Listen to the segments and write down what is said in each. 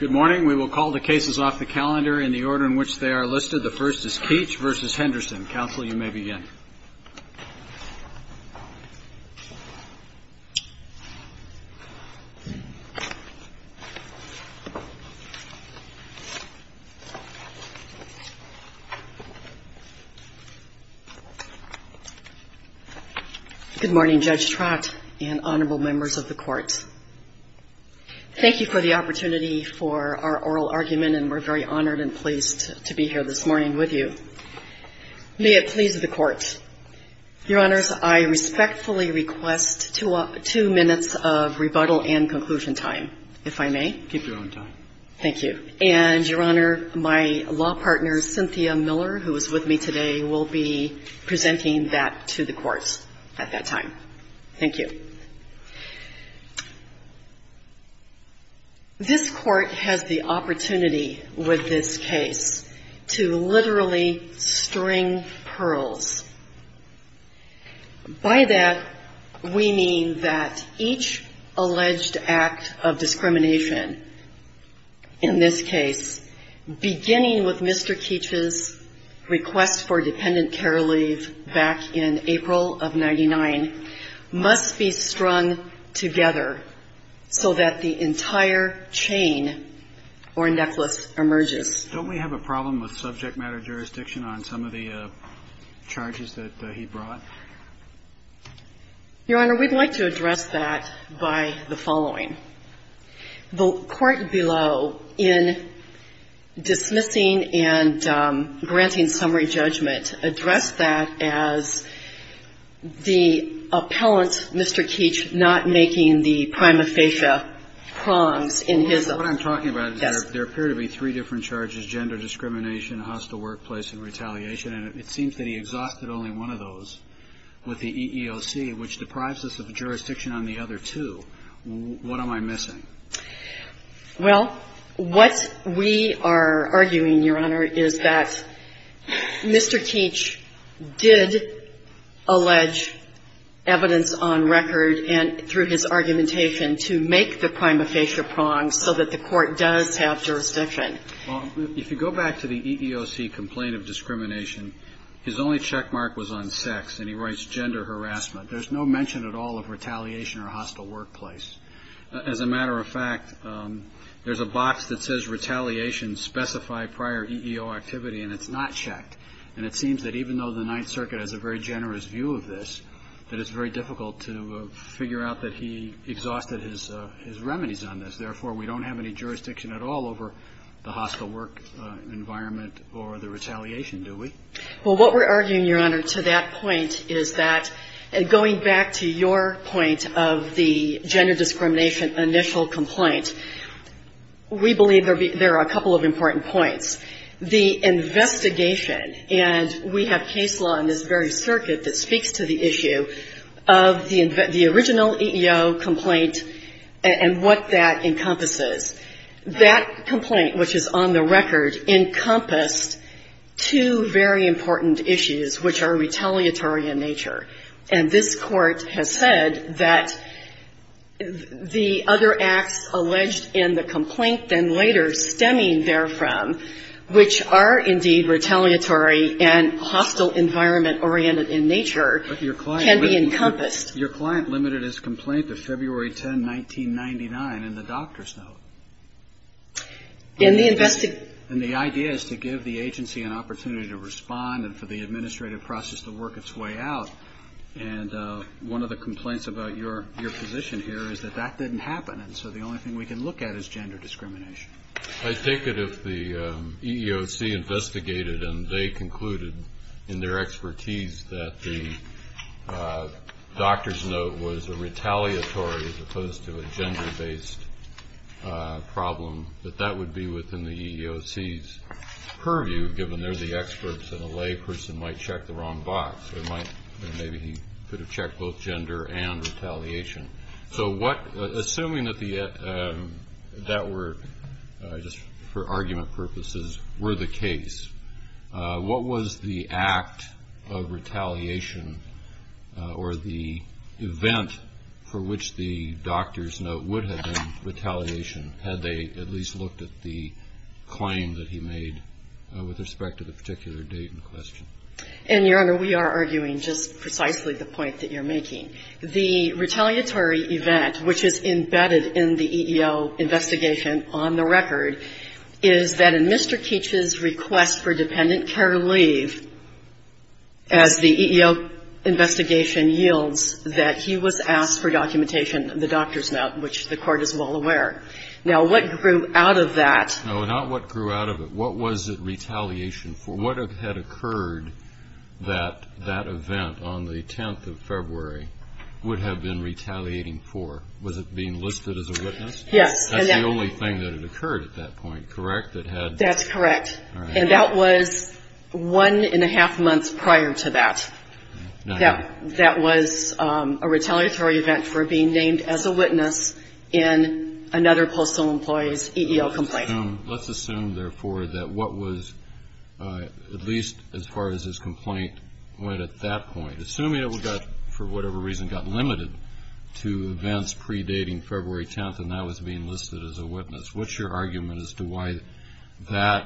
Good morning. We will call the cases off the calendar in the order in which they are listed. The first is Keech v. Henderson. Counsel, you may begin. Good morning, Judge Trott and honorable members of the Court. Thank you for the opportunity for our oral argument, and we're very honored and pleased to be here this morning with you. May it please the Court. Your Honors, I respectfully request to all of you to please stand and be seated. We have two minutes of rebuttal and conclusion time, if I may. Keep your own time. Thank you. And, Your Honor, my law partner, Cynthia Miller, who is with me today, will be presenting that to the courts at that time. Thank you. This Court has the opportunity with this case to literally string pearls. By that, we mean that each alleged act of discrimination in this case, beginning with Mr. Keech's request for dependent care leave back in April of 99, must be stringed together so that the entire chain or necklace emerges. Don't we have a problem with subject matter jurisdiction on some of the charges that he brought? Your Honor, we'd like to address that by the following. The Court below, in dismissing and granting summary judgment, addressed that as the appellant, Mr. Keech, not making the prima facie prongs in his own. Mr. Keech did allege evidence on record, and through his argumentation, to make the prima facie prongs so that the court would be able to make the prima facie prongs. The Court does have jurisdiction. Well, if you go back to the EEOC complaint of discrimination, his only checkmark was on sex, and he writes gender harassment. There's no mention at all of retaliation or hostile workplace. As a matter of fact, there's a box that says retaliation specify prior EEO activity, and it's not checked. And it seems that even though the Ninth Circuit has a very generous view of this, that it's very difficult to figure out that he exhausted his remedies on this. Therefore, we don't have any jurisdiction at all over the hostile work environment or the retaliation, do we? Well, what we're arguing, Your Honor, to that point is that going back to your point of the gender discrimination initial complaint, we believe there are a couple of important points. The investigation, and we have case law in this very circuit that speaks to the issue of the original EEO complaint and what that encompasses. That complaint, which is on the record, encompassed two very important issues which are retaliatory in nature. And this Court has said that the other acts alleged in the complaint, then later stemming therefrom, which are indeed retaliatory and hostile environment-oriented in nature, can be encompassed. But your client limited his complaint to February 10, 1999 in the doctor's note. And the idea is to give the agency an opportunity to respond and for the administrative process to work its way out. And one of the complaints about your position here is that that didn't happen, and so the only thing we can look at is gender discrimination. I take it if the EEOC investigated and they concluded in their expertise that the doctor's note was a retaliatory as opposed to a gender-based problem, that that would be within the EEOC's purview, given they're the experts, and a layperson might check the wrong box. Or maybe he could have checked both gender and retaliation. So what, assuming that that were, just for argument purposes, were the case, what was the act of retaliation or the event for which the doctor's note would have been retaliation, had they at least looked at the claim that he made with respect to the particular date in question? And, Your Honor, we are arguing just precisely the point that you're making. The retaliatory event, which is embedded in the EEO investigation on the record, is that in Mr. Keach's request for dependent care leave, as the EEO investigation yields, that he was asked for documentation, the doctor's note, which the Court is well aware. Now, what grew out of that — would have been retaliating for? Was it being listed as a witness? Yes. That's the only thing that had occurred at that point, correct? That's correct. All right. And that was one and a half months prior to that. Now how? That was a retaliatory event for being named as a witness in another postal employee's EEO complaint. Let's assume, therefore, that what was, at least as far as his complaint went at that point, assuming it got, for whatever reason, got limited to events predating February 10th and that was being listed as a witness, what's your argument as to why that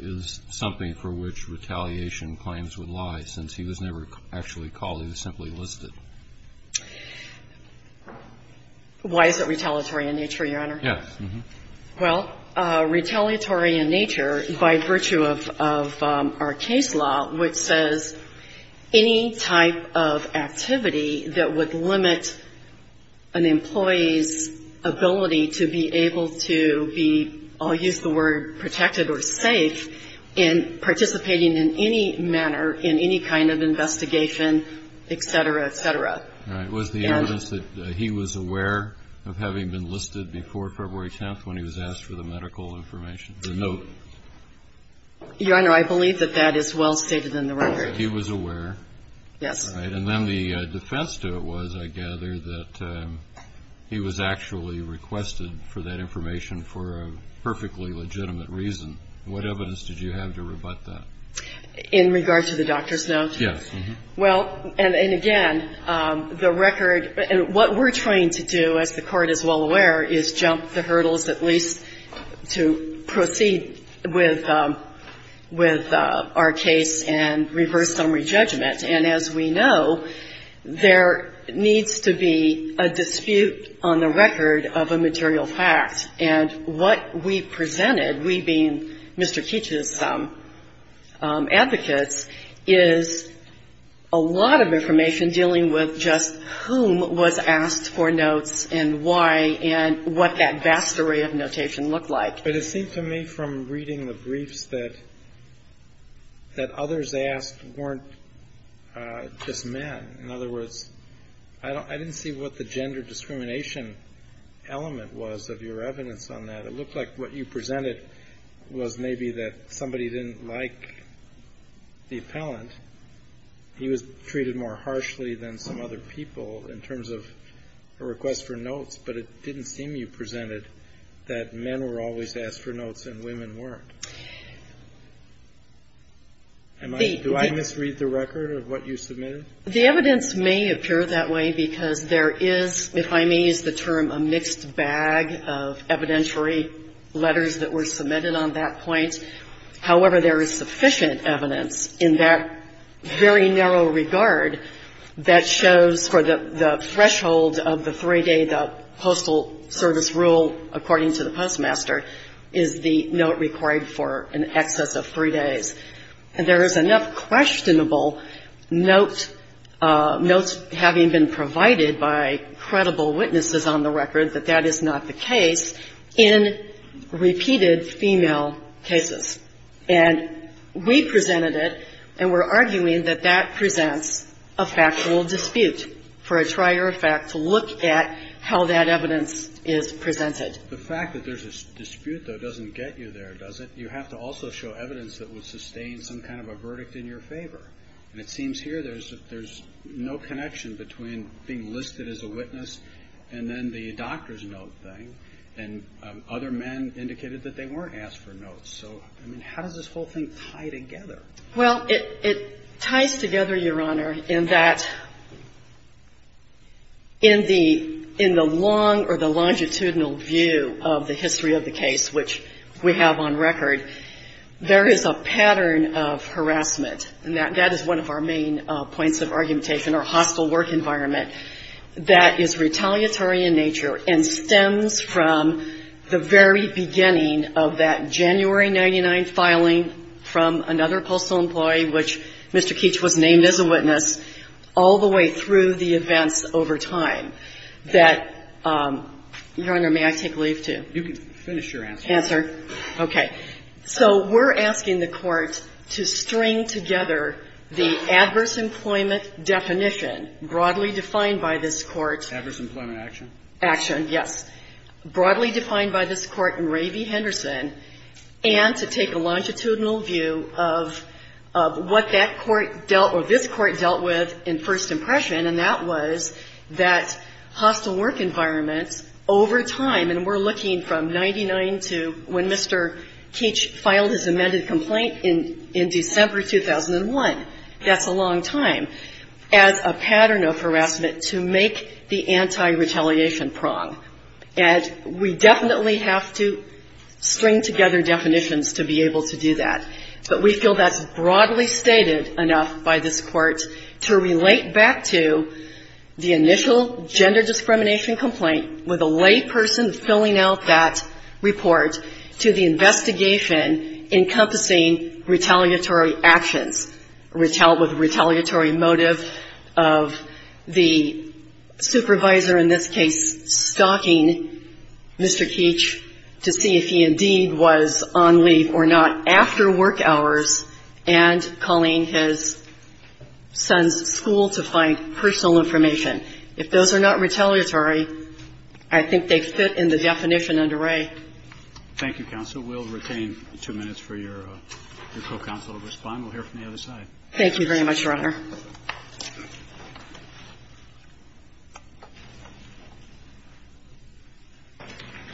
is something for which retaliation claims would lie, since he was never actually called. He was simply listed. Why is it retaliatory in nature, Your Honor? Yes. Well, retaliatory in nature by virtue of our case law, which says any type of activity that would limit an employee's ability to be able to be, I'll use the word, protected or safe in participating in any manner in any kind of investigation, et cetera, et cetera. All right. Was the evidence that he was aware of having been listed before February 10th when he was asked for the medical information, the note? Your Honor, I believe that that is well stated in the record. He was aware. Yes. All right. And then the defense to it was, I gather, that he was actually requested for that information for a perfectly legitimate reason. What evidence did you have to rebut that? In regards to the doctor's note? Yes. Well, and again, the record – and what we're trying to do, as the Court is well aware, is jump the hurdles at least to proceed with our case and reverse summary judgment. And as we know, there needs to be a dispute on the record of a material fact. And what we presented, we being Mr. Keech's advocates, is a lot of information dealing with just whom was asked for notes and why and what that vast array of notation looked like. But it seemed to me from reading the briefs that others asked weren't just men. In other words, I didn't see what the gender discrimination element was of your evidence on that. It looked like what you presented was maybe that somebody didn't like the appellant. He was treated more harshly than some other people in terms of a request for notes. But it didn't seem, you presented, that men were always asked for notes and women weren't. Do I misread the record of what you submitted? The evidence may appear that way because there is, if I may use the term, a mixed bag of evidentiary letters that were submitted on that point. However, there is sufficient evidence in that very narrow regard that shows for the threshold of the 3-day, the Postal Service rule, according to the Postmaster, is the note required for an excess of 3 days. And there is enough questionable notes having been provided by credible witnesses on the record that that is not the case in repeated female cases. And we presented it, and we're arguing that that presents a factual dispute for a trier of fact to look at how that evidence is presented. The fact that there's a dispute, though, doesn't get you there, does it? You have to also show evidence that would sustain some kind of a verdict in your favor. And it seems here there's no connection between being listed as a witness and then the doctor's note thing. And other men indicated that they weren't asked for notes. So, I mean, how does this whole thing tie together? Well, it ties together, Your Honor, in that in the long or the longitudinal view of the history of the case, which we have on record, there is a pattern of harassment. And that is one of our main points of argumentation, our hostile work environment that is retaliatory in nature and stems from the very beginning of that January 99 filing from another postal employee, which Mr. Keech was named as a witness, all the way through the events over time that, Your Honor, may I take leave, too? You can finish your answer. Answer. Okay. So we're asking the Court to string together the adverse employment definition broadly defined by this Court. Adverse employment action. Action, yes. Broadly defined by this Court in Ravy-Henderson, and to take a longitudinal view of what that Court dealt or this Court dealt with in first impression, and that was that hostile work environment over time, and we're looking from 99 to when Mr. Keech filed his amended complaint in December 2001. That's a long time. As a pattern of harassment to make the anti-retaliation prong. And we definitely have to string together definitions to be able to do that. But we feel that's broadly stated enough by this Court to relate back to the initial gender discrimination complaint with a layperson filling out that report to the investigation encompassing retaliatory actions, with retaliatory motive of the supervisor, in this case stalking Mr. Keech to see if he indeed was on leave or not after work hours, and calling his son's school to find personal information. If those are not retaliatory, I think they fit in the definition under Ray. Thank you, counsel. We'll retain two minutes for your co-counsel to respond. We'll hear from the other side. Thank you very much, Your Honor.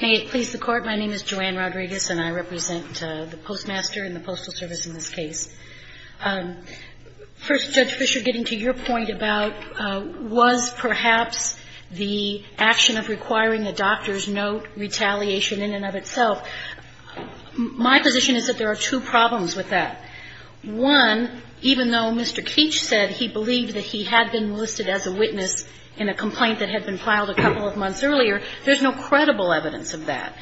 May it please the Court. My name is Joanne Rodriguez, and I represent the Postmaster and the Postal Service in this case. First, Judge Fischer, getting to your point about was perhaps the action of requiring a doctor's note retaliation in and of itself, my position is that there are two problems with that. One, even though Mr. Keech said he believed that he had been listed as a witness in a complaint that had been filed a couple of months earlier, there's no credible evidence of that.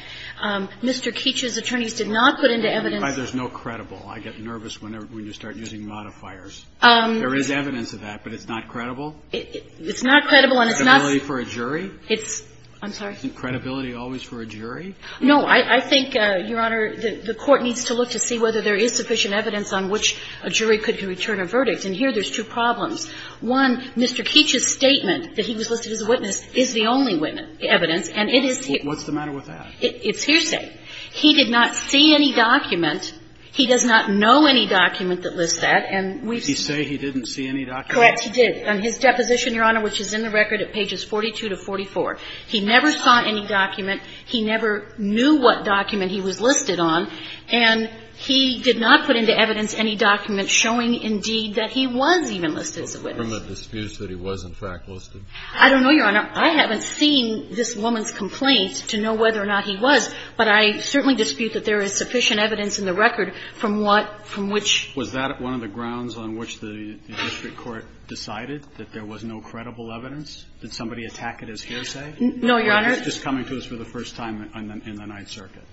Mr. Keech's attorneys did not put into evidence the fact that there's no credible. I get nervous whenever you start using modifiers. There is evidence of that, but it's not credible? It's not credible, and it's not. Credibility for a jury? It's – I'm sorry. Isn't credibility always for a jury? No. I think, Your Honor, the Court needs to look to see whether there is sufficient evidence on which a jury could return a verdict, and here there's two problems. One, Mr. Keech's statement that he was listed as a witness is the only witness evidence, and it is – What's the matter with that? It's hearsay. He did not see any document. He does not know any document that lists that, and we've – Did he say he didn't see any document? Correct, he did. On his deposition, Your Honor, which is in the record at pages 42 to 44, he never saw any document. He never knew what document he was listed on, and he did not put into evidence any document showing, indeed, that he was even listed as a witness. Well, from a dispute that he was, in fact, listed. I don't know, Your Honor. I haven't seen this woman's complaint to know whether or not he was, but I certainly dispute that there is sufficient evidence in the record from what – from which Was that one of the grounds on which the district court decided that there was no credible evidence? Did somebody attack it as hearsay? No, Your Honor. Or was it just coming to us for the first time in the Ninth Circuit?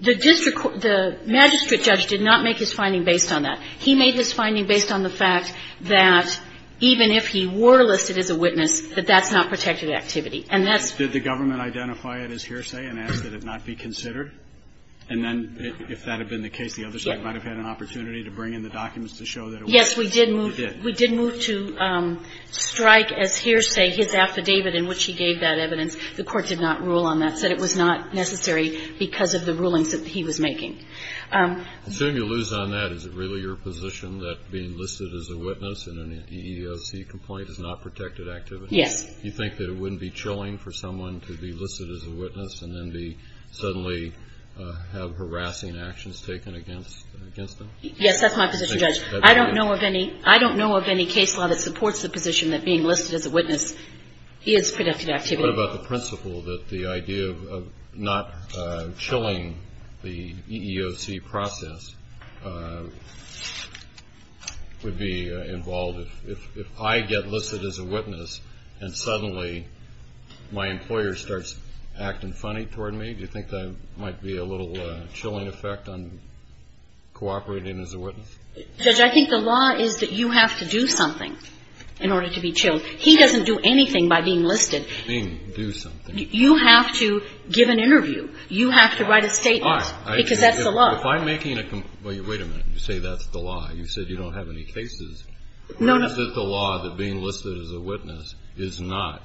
The district – the magistrate judge did not make his finding based on that. He made his finding based on the fact that even if he were listed as a witness, that that's not protected activity. And that's – Did the government identify it as hearsay and ask that it not be considered? And then if that had been the case, the other side might have had an opportunity to bring in the documents to show that it was. Yes, we did move – You did. We did move to strike as hearsay his affidavit in which he gave that evidence. The court did not rule on that, said it was not necessary because of the rulings that he was making. I assume you lose on that. Is it really your position that being listed as a witness in an EEOC complaint is not protected activity? Yes. You think that it wouldn't be chilling for someone to be listed as a witness and then be – suddenly have harassing actions taken against – against them? Yes, that's my position, Judge. I don't know of any – I don't know of any case law that supports the position that being listed as a witness is protected activity. What about the principle that the idea of not chilling the EEOC process would be involved if I get listed as a witness and suddenly my employer starts acting funny toward me? Do you think that might be a little chilling effect on cooperating as a witness? Judge, I think the law is that you have to do something in order to be chilled. He doesn't do anything by being listed. I mean, do something. You have to give an interview. You have to write a statement. All right. Because that's the law. If I'm making a – wait a minute. You say that's the law. You said you don't have any cases. No, no. Or is it the law that being listed as a witness is not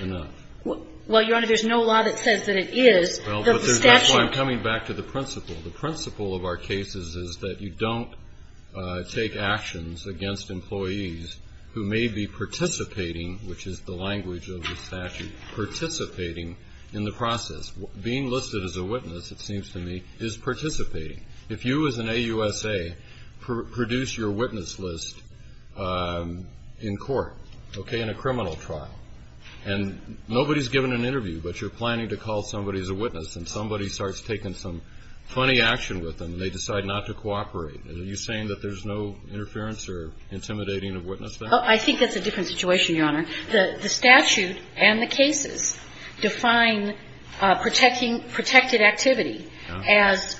enough? Well, Your Honor, there's no law that says that it is. Well, but there's – that's why I'm coming back to the principle. The principle of our cases is that you don't take actions against employees who may be participating, which is the language of the statute, participating in the process. Being listed as a witness, it seems to me, is participating. If you as an AUSA produce your witness list in court, okay, in a criminal trial, and nobody's given an interview but you're planning to call somebody as a witness and somebody starts taking some funny action with them and they decide not to cooperate, are you saying that there's no interference or intimidating of witness there? I think that's a different situation, Your Honor. The statute and the cases define protecting – protected activity as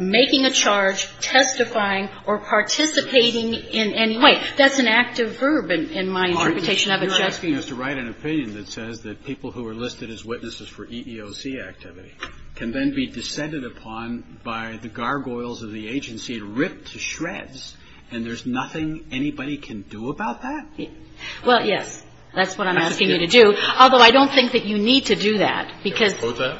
making a charge, testifying, or participating in any way. That's an active verb in my interpretation of it, Justice Breyer. You're asking us to write an opinion that says that people who are listed as witnesses for EEOC activity can then be descended upon by the gargoyles of the agency, ripped to shreds, and there's nothing anybody can do about that? Well, yes, that's what I'm asking you to do, although I don't think that you need to do that because – Can I suppose that?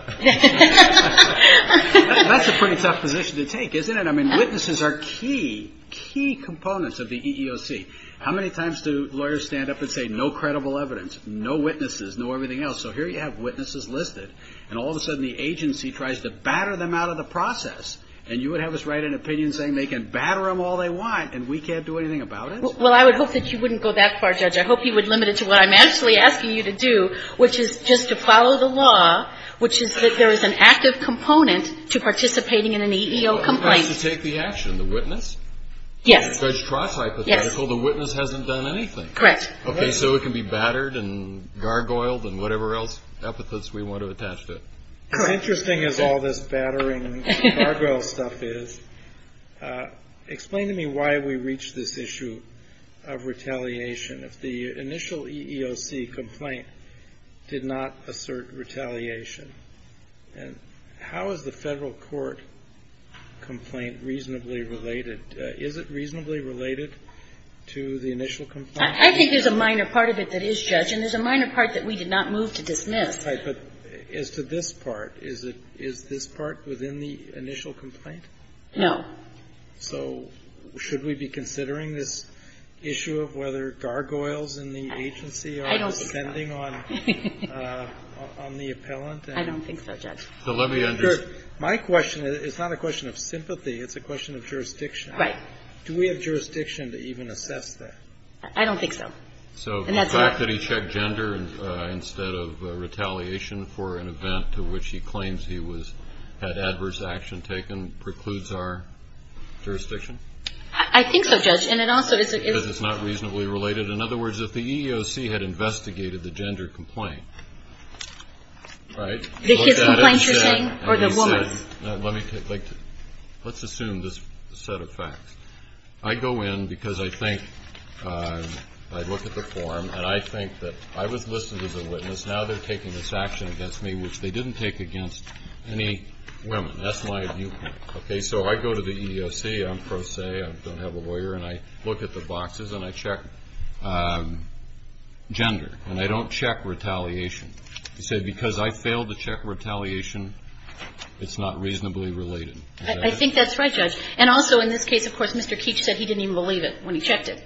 That's a pretty tough position to take, isn't it? I mean, witnesses are key, key components of the EEOC. How many times do lawyers stand up and say no credible evidence, no witnesses, no everything else? So here you have witnesses listed and all of a sudden the agency tries to batter them out of the process and you would have us write an opinion saying they can batter them all they want and we can't do anything about it? Well, I would hope that you wouldn't go that far, Judge. I hope you would limit it to what I'm actually asking you to do, which is just to follow the law, which is that there is an active component to participating in an EEOC complaint. Who has to take the action, the witness? Yes. In Judge Trott's hypothetical, the witness hasn't done anything. Correct. Okay, so it can be battered and gargoyled and whatever else, epithets we want to attach to it. Correct. As interesting as all this battering and gargoyle stuff is, explain to me why we reach this issue of retaliation. If the initial EEOC complaint did not assert retaliation, how is the Federal Court complaint reasonably related? Is it reasonably related to the initial complaint? I think there's a minor part of it that is, Judge, and there's a minor part that we did not move to dismiss. Right. But as to this part, is this part within the initial complaint? No. So should we be considering this issue of whether gargoyles in the agency are depending on the appellant? I don't think so, Judge. So let me understand. My question is not a question of sympathy. It's a question of jurisdiction. Right. Do we have jurisdiction to even assess that? I don't think so. So the fact that he checked gender instead of retaliation for an event to which he claims he was at adverse action taken precludes our jurisdiction? I think so, Judge. And it also is it's not reasonably related. In other words, if the EEOC had investigated the gender complaint, right? The complaints you're saying or the woman's? Let's assume this set of facts. I go in because I think I look at the form, and I think that I was listed as a witness. Now they're taking this action against me, which they didn't take against any women. That's my viewpoint. Okay. So I go to the EEOC. I'm pro se. I don't have a lawyer. And I look at the boxes, and I check gender. And I don't check retaliation. He said because I failed to check retaliation, it's not reasonably related. I think that's right, Judge. And also in this case, of course, Mr. Keech said he didn't even believe it when he checked it.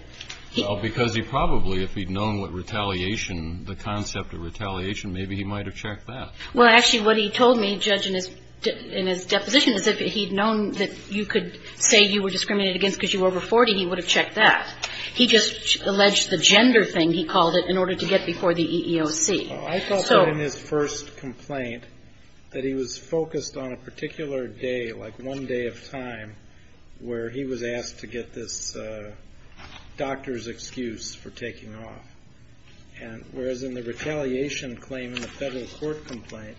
Well, because he probably, if he'd known what retaliation, the concept of retaliation, maybe he might have checked that. Well, actually, what he told me, Judge, in his deposition, is if he'd known that you could say you were discriminated against because you were over 40, he would have checked that. He just alleged the gender thing, he called it, in order to get before the EEOC. I thought that in his first complaint that he was focused on a particular day, like one day of time, where he was asked to get this doctor's excuse for taking off. Whereas in the retaliation claim in the federal court complaint,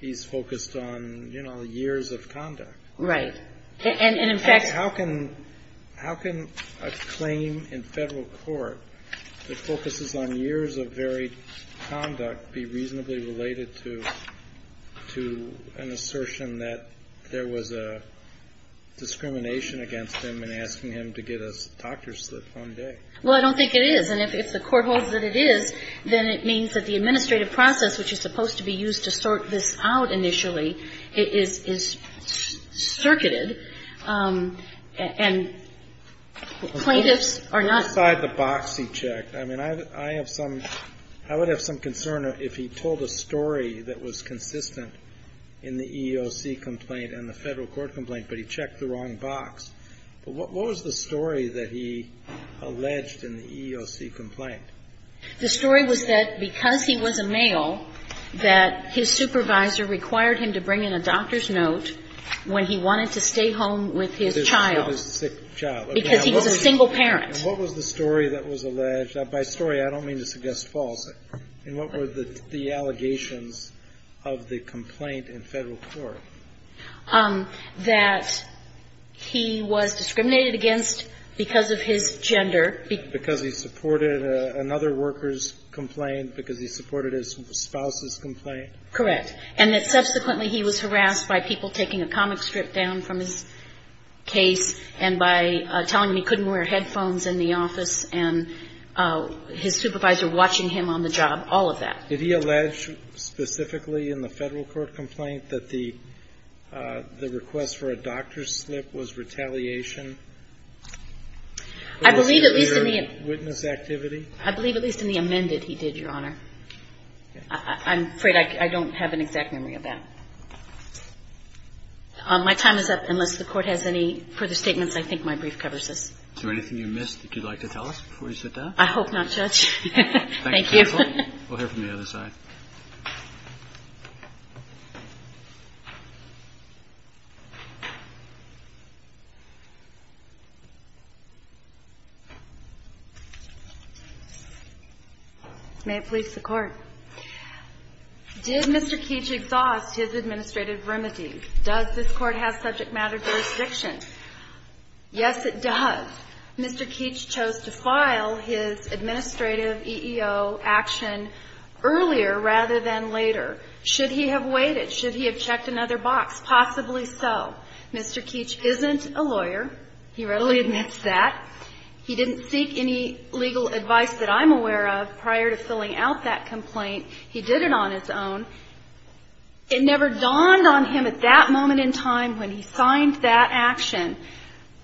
he's focused on, you know, years of conduct. Right. And in fact How can a claim in federal court that focuses on years of varied conduct be reasonably related to an assertion that there was a discrimination against him in asking him to get a doctor's slip one day? Well, I don't think it is. And if the court holds that it is, then it means that the administrative process, which is supposed to be used to sort this out initially, is circuited and plaintiffs are not. Well, aside the box he checked, I mean, I have some, I would have some concern if he told a story that was consistent in the EEOC complaint and the federal court complaint, but he checked the wrong box. But what was the story that he alleged in the EEOC complaint? The story was that because he was a male, that his supervisor required him to bring in a doctor's note when he wanted to stay home with his child. With his sick child. Because he was a single parent. And what was the story that was alleged? By story, I don't mean to suggest false. And what were the allegations of the complaint in federal court? That he was discriminated against because of his gender. Because he supported another worker's complaint, because he supported his spouse's complaint. Correct. And that subsequently he was harassed by people taking a comic strip down from his case and by telling him he couldn't wear headphones in the office and his supervisor watching him on the job, all of that. Did he allege specifically in the federal court complaint that the request for a doctor's slip was retaliation? I believe at least in the amended he did, Your Honor. I'm afraid I don't have an exact memory of that. My time is up. Unless the Court has any further statements, I think my brief covers this. Is there anything you missed that you'd like to tell us before you sit down? I hope not, Judge. Thank you. We'll hear from the other side. May it please the Court. Did Mr. Keech exhaust his administrative remedy? Does this Court have subject matter jurisdiction? Yes, it does. Mr. Keech chose to file his administrative EEO action earlier rather than later. Should he have waited? Should he have checked another box? Possibly so. Mr. Keech isn't a lawyer. He readily admits that. He didn't seek any legal advice that I'm aware of prior to filling out that complaint. He did it on his own. It never dawned on him at that moment in time when he signed that action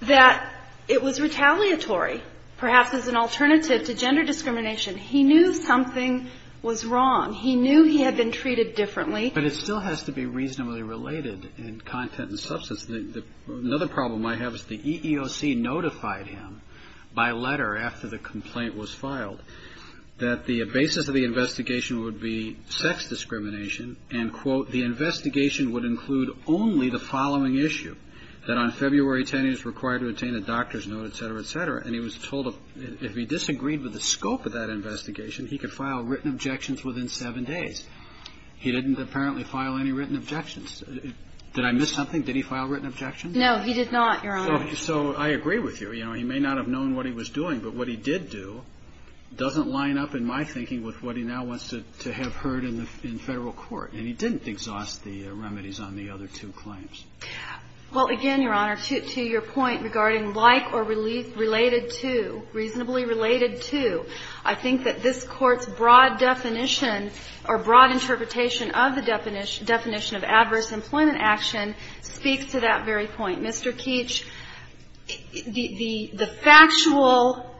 that it was retaliatory, perhaps as an alternative to gender discrimination. He knew something was wrong. He knew he had been treated differently. But it still has to be reasonably related in content and substance. Another problem I have is the EEOC notified him by letter after the complaint was filed that the basis of the investigation would be sex discrimination and, quote, the investigation would include only the following issue, that on February 10 he was required to obtain a doctor's note, et cetera, et cetera. And he was told if he disagreed with the scope of that investigation, he could file written objections within seven days. He didn't apparently file any written objections. Did I miss something? Did he file written objections? No, he did not, Your Honor. So I agree with you. You know, he may not have known what he was doing, but what he did do doesn't line up in my thinking with what he now wants to have heard in Federal court. And he didn't exhaust the remedies on the other two claims. Well, again, Your Honor, to your point regarding like or related to, reasonably related to, I think that this Court's broad definition or broad interpretation of the definition of adverse employment action speaks to that very point. Mr. Keech, the factual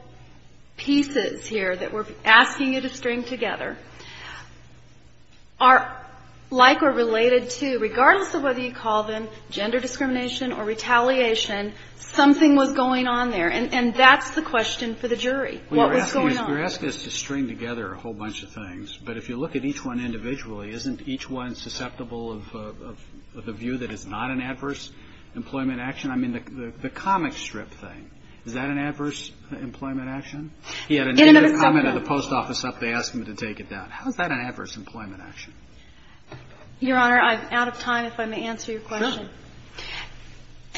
pieces here that we're asking you to string together are like or related to, regardless of whether you call them gender discrimination or retaliation, something was going on there. And that's the question for the jury, what was going on. You're asking us to string together a whole bunch of things. But if you look at each one individually, isn't each one susceptible of a view that it's not an adverse employment action? I mean, the comic strip thing, is that an adverse employment action? He had a negative comment at the post office up, they asked him to take it down. How is that an adverse employment action? Your Honor, I'm out of time if I may answer your question. Of course.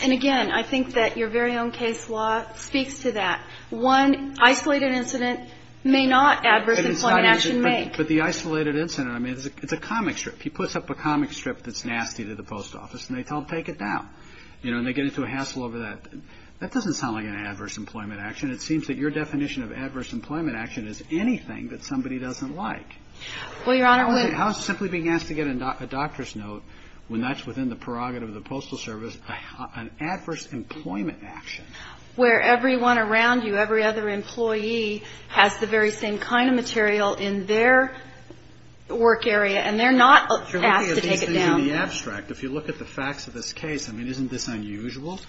And again, I think that your very own case law speaks to that. One isolated incident may not adverse employment action make. But the isolated incident, I mean, it's a comic strip. He puts up a comic strip that's nasty to the post office, and they tell him to take it down. You know, and they get into a hassle over that. That doesn't sound like an adverse employment action. It seems that your definition of adverse employment action is anything that somebody doesn't like. Well, Your Honor, we How is simply being asked to get a doctor's note when that's within the prerogative of the Postal Service an adverse employment action? Where everyone around you, every other employee, has the very same kind of material in their work area. And they're not asked to take it down. You're looking at these things in the abstract. If you look at the facts of this case, I mean, isn't this unusual?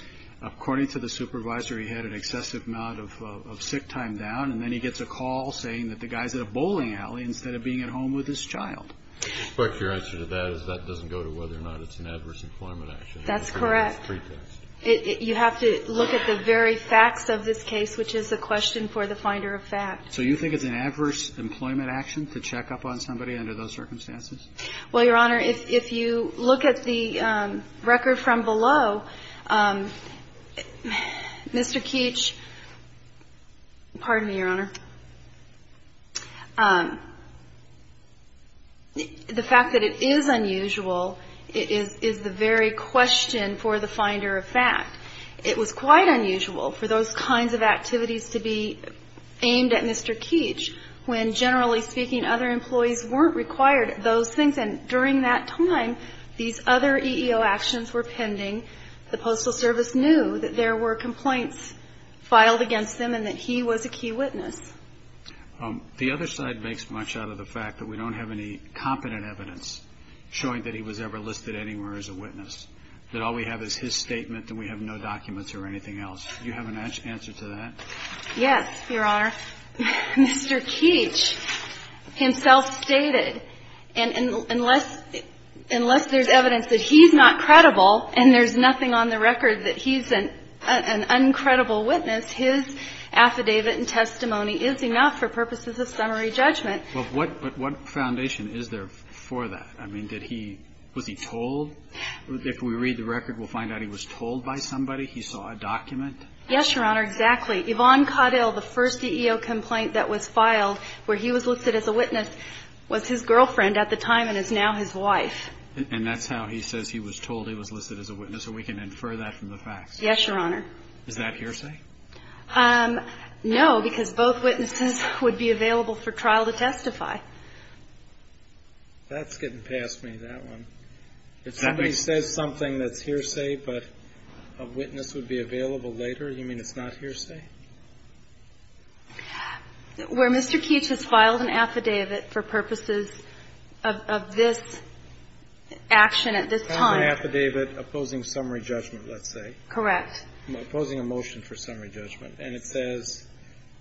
According to the supervisor, he had an excessive amount of sick time down, and then he gets a call saying that the guy's at a bowling alley instead of being at home with his child. But your answer to that is that doesn't go to whether or not it's an adverse employment action. That's correct. It's a pretext. You have to look at the very facts of this case, which is the question for the finder of fact. So you think it's an adverse employment action to check up on somebody under those circumstances? Well, Your Honor, if you look at the record from below, Mr. Keech, pardon me, Your Honor. The fact that it is unusual is the very question for the finder of fact. It was quite unusual for those kinds of activities to be aimed at Mr. Keech when, generally speaking, other employees weren't required at those things. And during that time, these other EEO actions were pending. The Postal Service knew that there were complaints filed against them and that he was a key witness. The other side makes much out of the fact that we don't have any competent evidence showing that he was ever listed anywhere as a witness, that all we have is his statement and we have no documents or anything else. Do you have an answer to that? Yes, Your Honor. Mr. Keech himself stated, and unless there's evidence that he's not credible and there's nothing on the record that he's an uncredible witness, his affidavit and testimony is enough for purposes of summary judgment. Well, what foundation is there for that? I mean, was he told? If we read the record, we'll find out he was told by somebody. He saw a document. Yes, Your Honor, exactly. Yvonne Caudill, the first EEO complaint that was filed where he was listed as a witness, was his girlfriend at the time and is now his wife. And that's how he says he was told he was listed as a witness, or we can infer that from the facts? Yes, Your Honor. Is that hearsay? No, because both witnesses would be available for trial to testify. That's getting past me, that one. If somebody says something that's hearsay but a witness would be available later, you mean it's not hearsay? Where Mr. Keech has filed an affidavit for purposes of this action at this time. Filed an affidavit opposing summary judgment, let's say. Correct. Opposing a motion for summary judgment. And it says,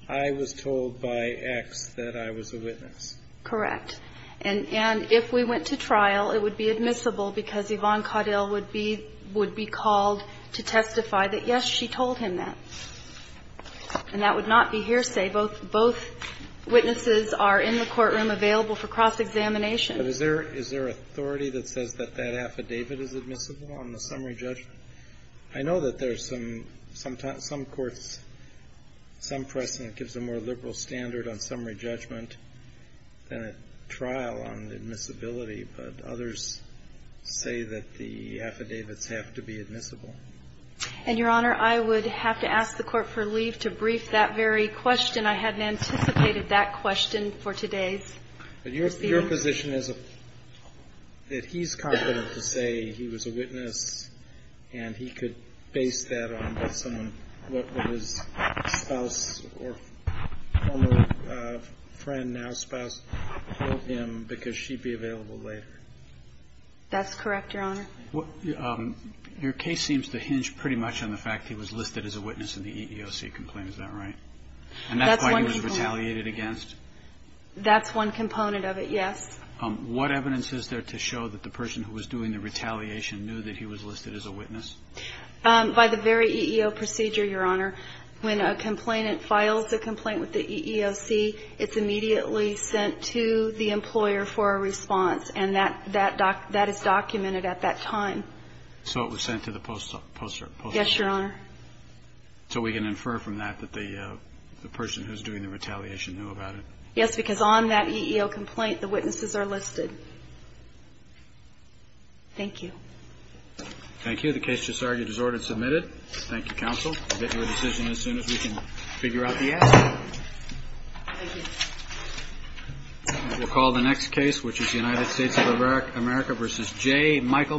I was told by X that I was a witness. Correct. And if we went to trial, it would be admissible because Yvonne Caudill would be called to testify that, yes, she told him that. And that would not be hearsay. Both witnesses are in the courtroom available for cross-examination. But is there authority that says that that affidavit is admissible on the summary judgment? I know that there's some courts, some precedent gives a more liberal standard on summary judgment than a trial on admissibility. But others say that the affidavits have to be admissible. And, Your Honor, I would have to ask the Court for leave to brief that very question. I hadn't anticipated that question for today's hearing. Your position is that he's confident to say he was a witness and he could base that on what his spouse or former friend, now spouse, told him because she'd be available later. That's correct, Your Honor. Your case seems to hinge pretty much on the fact that he was listed as a witness in the EEOC complaint. Is that right? And that's why he was retaliated against? That's one component of it, yes. What evidence is there to show that the person who was doing the retaliation knew that he was listed as a witness? By the very EEO procedure, Your Honor. When a complainant files a complaint with the EEOC, it's immediately sent to the employer for a response. And that is documented at that time. So it was sent to the post office? Yes, Your Honor. So we can infer from that that the person who's doing the retaliation knew about it? Yes, because on that EEO complaint, the witnesses are listed. Thank you. Thank you. The case just argued is ordered and submitted. Thank you, counsel. We'll get to your decision as soon as we can figure out the answer. Thank you. We'll call the next case, which is United States of America v. J. Michael McGinnis.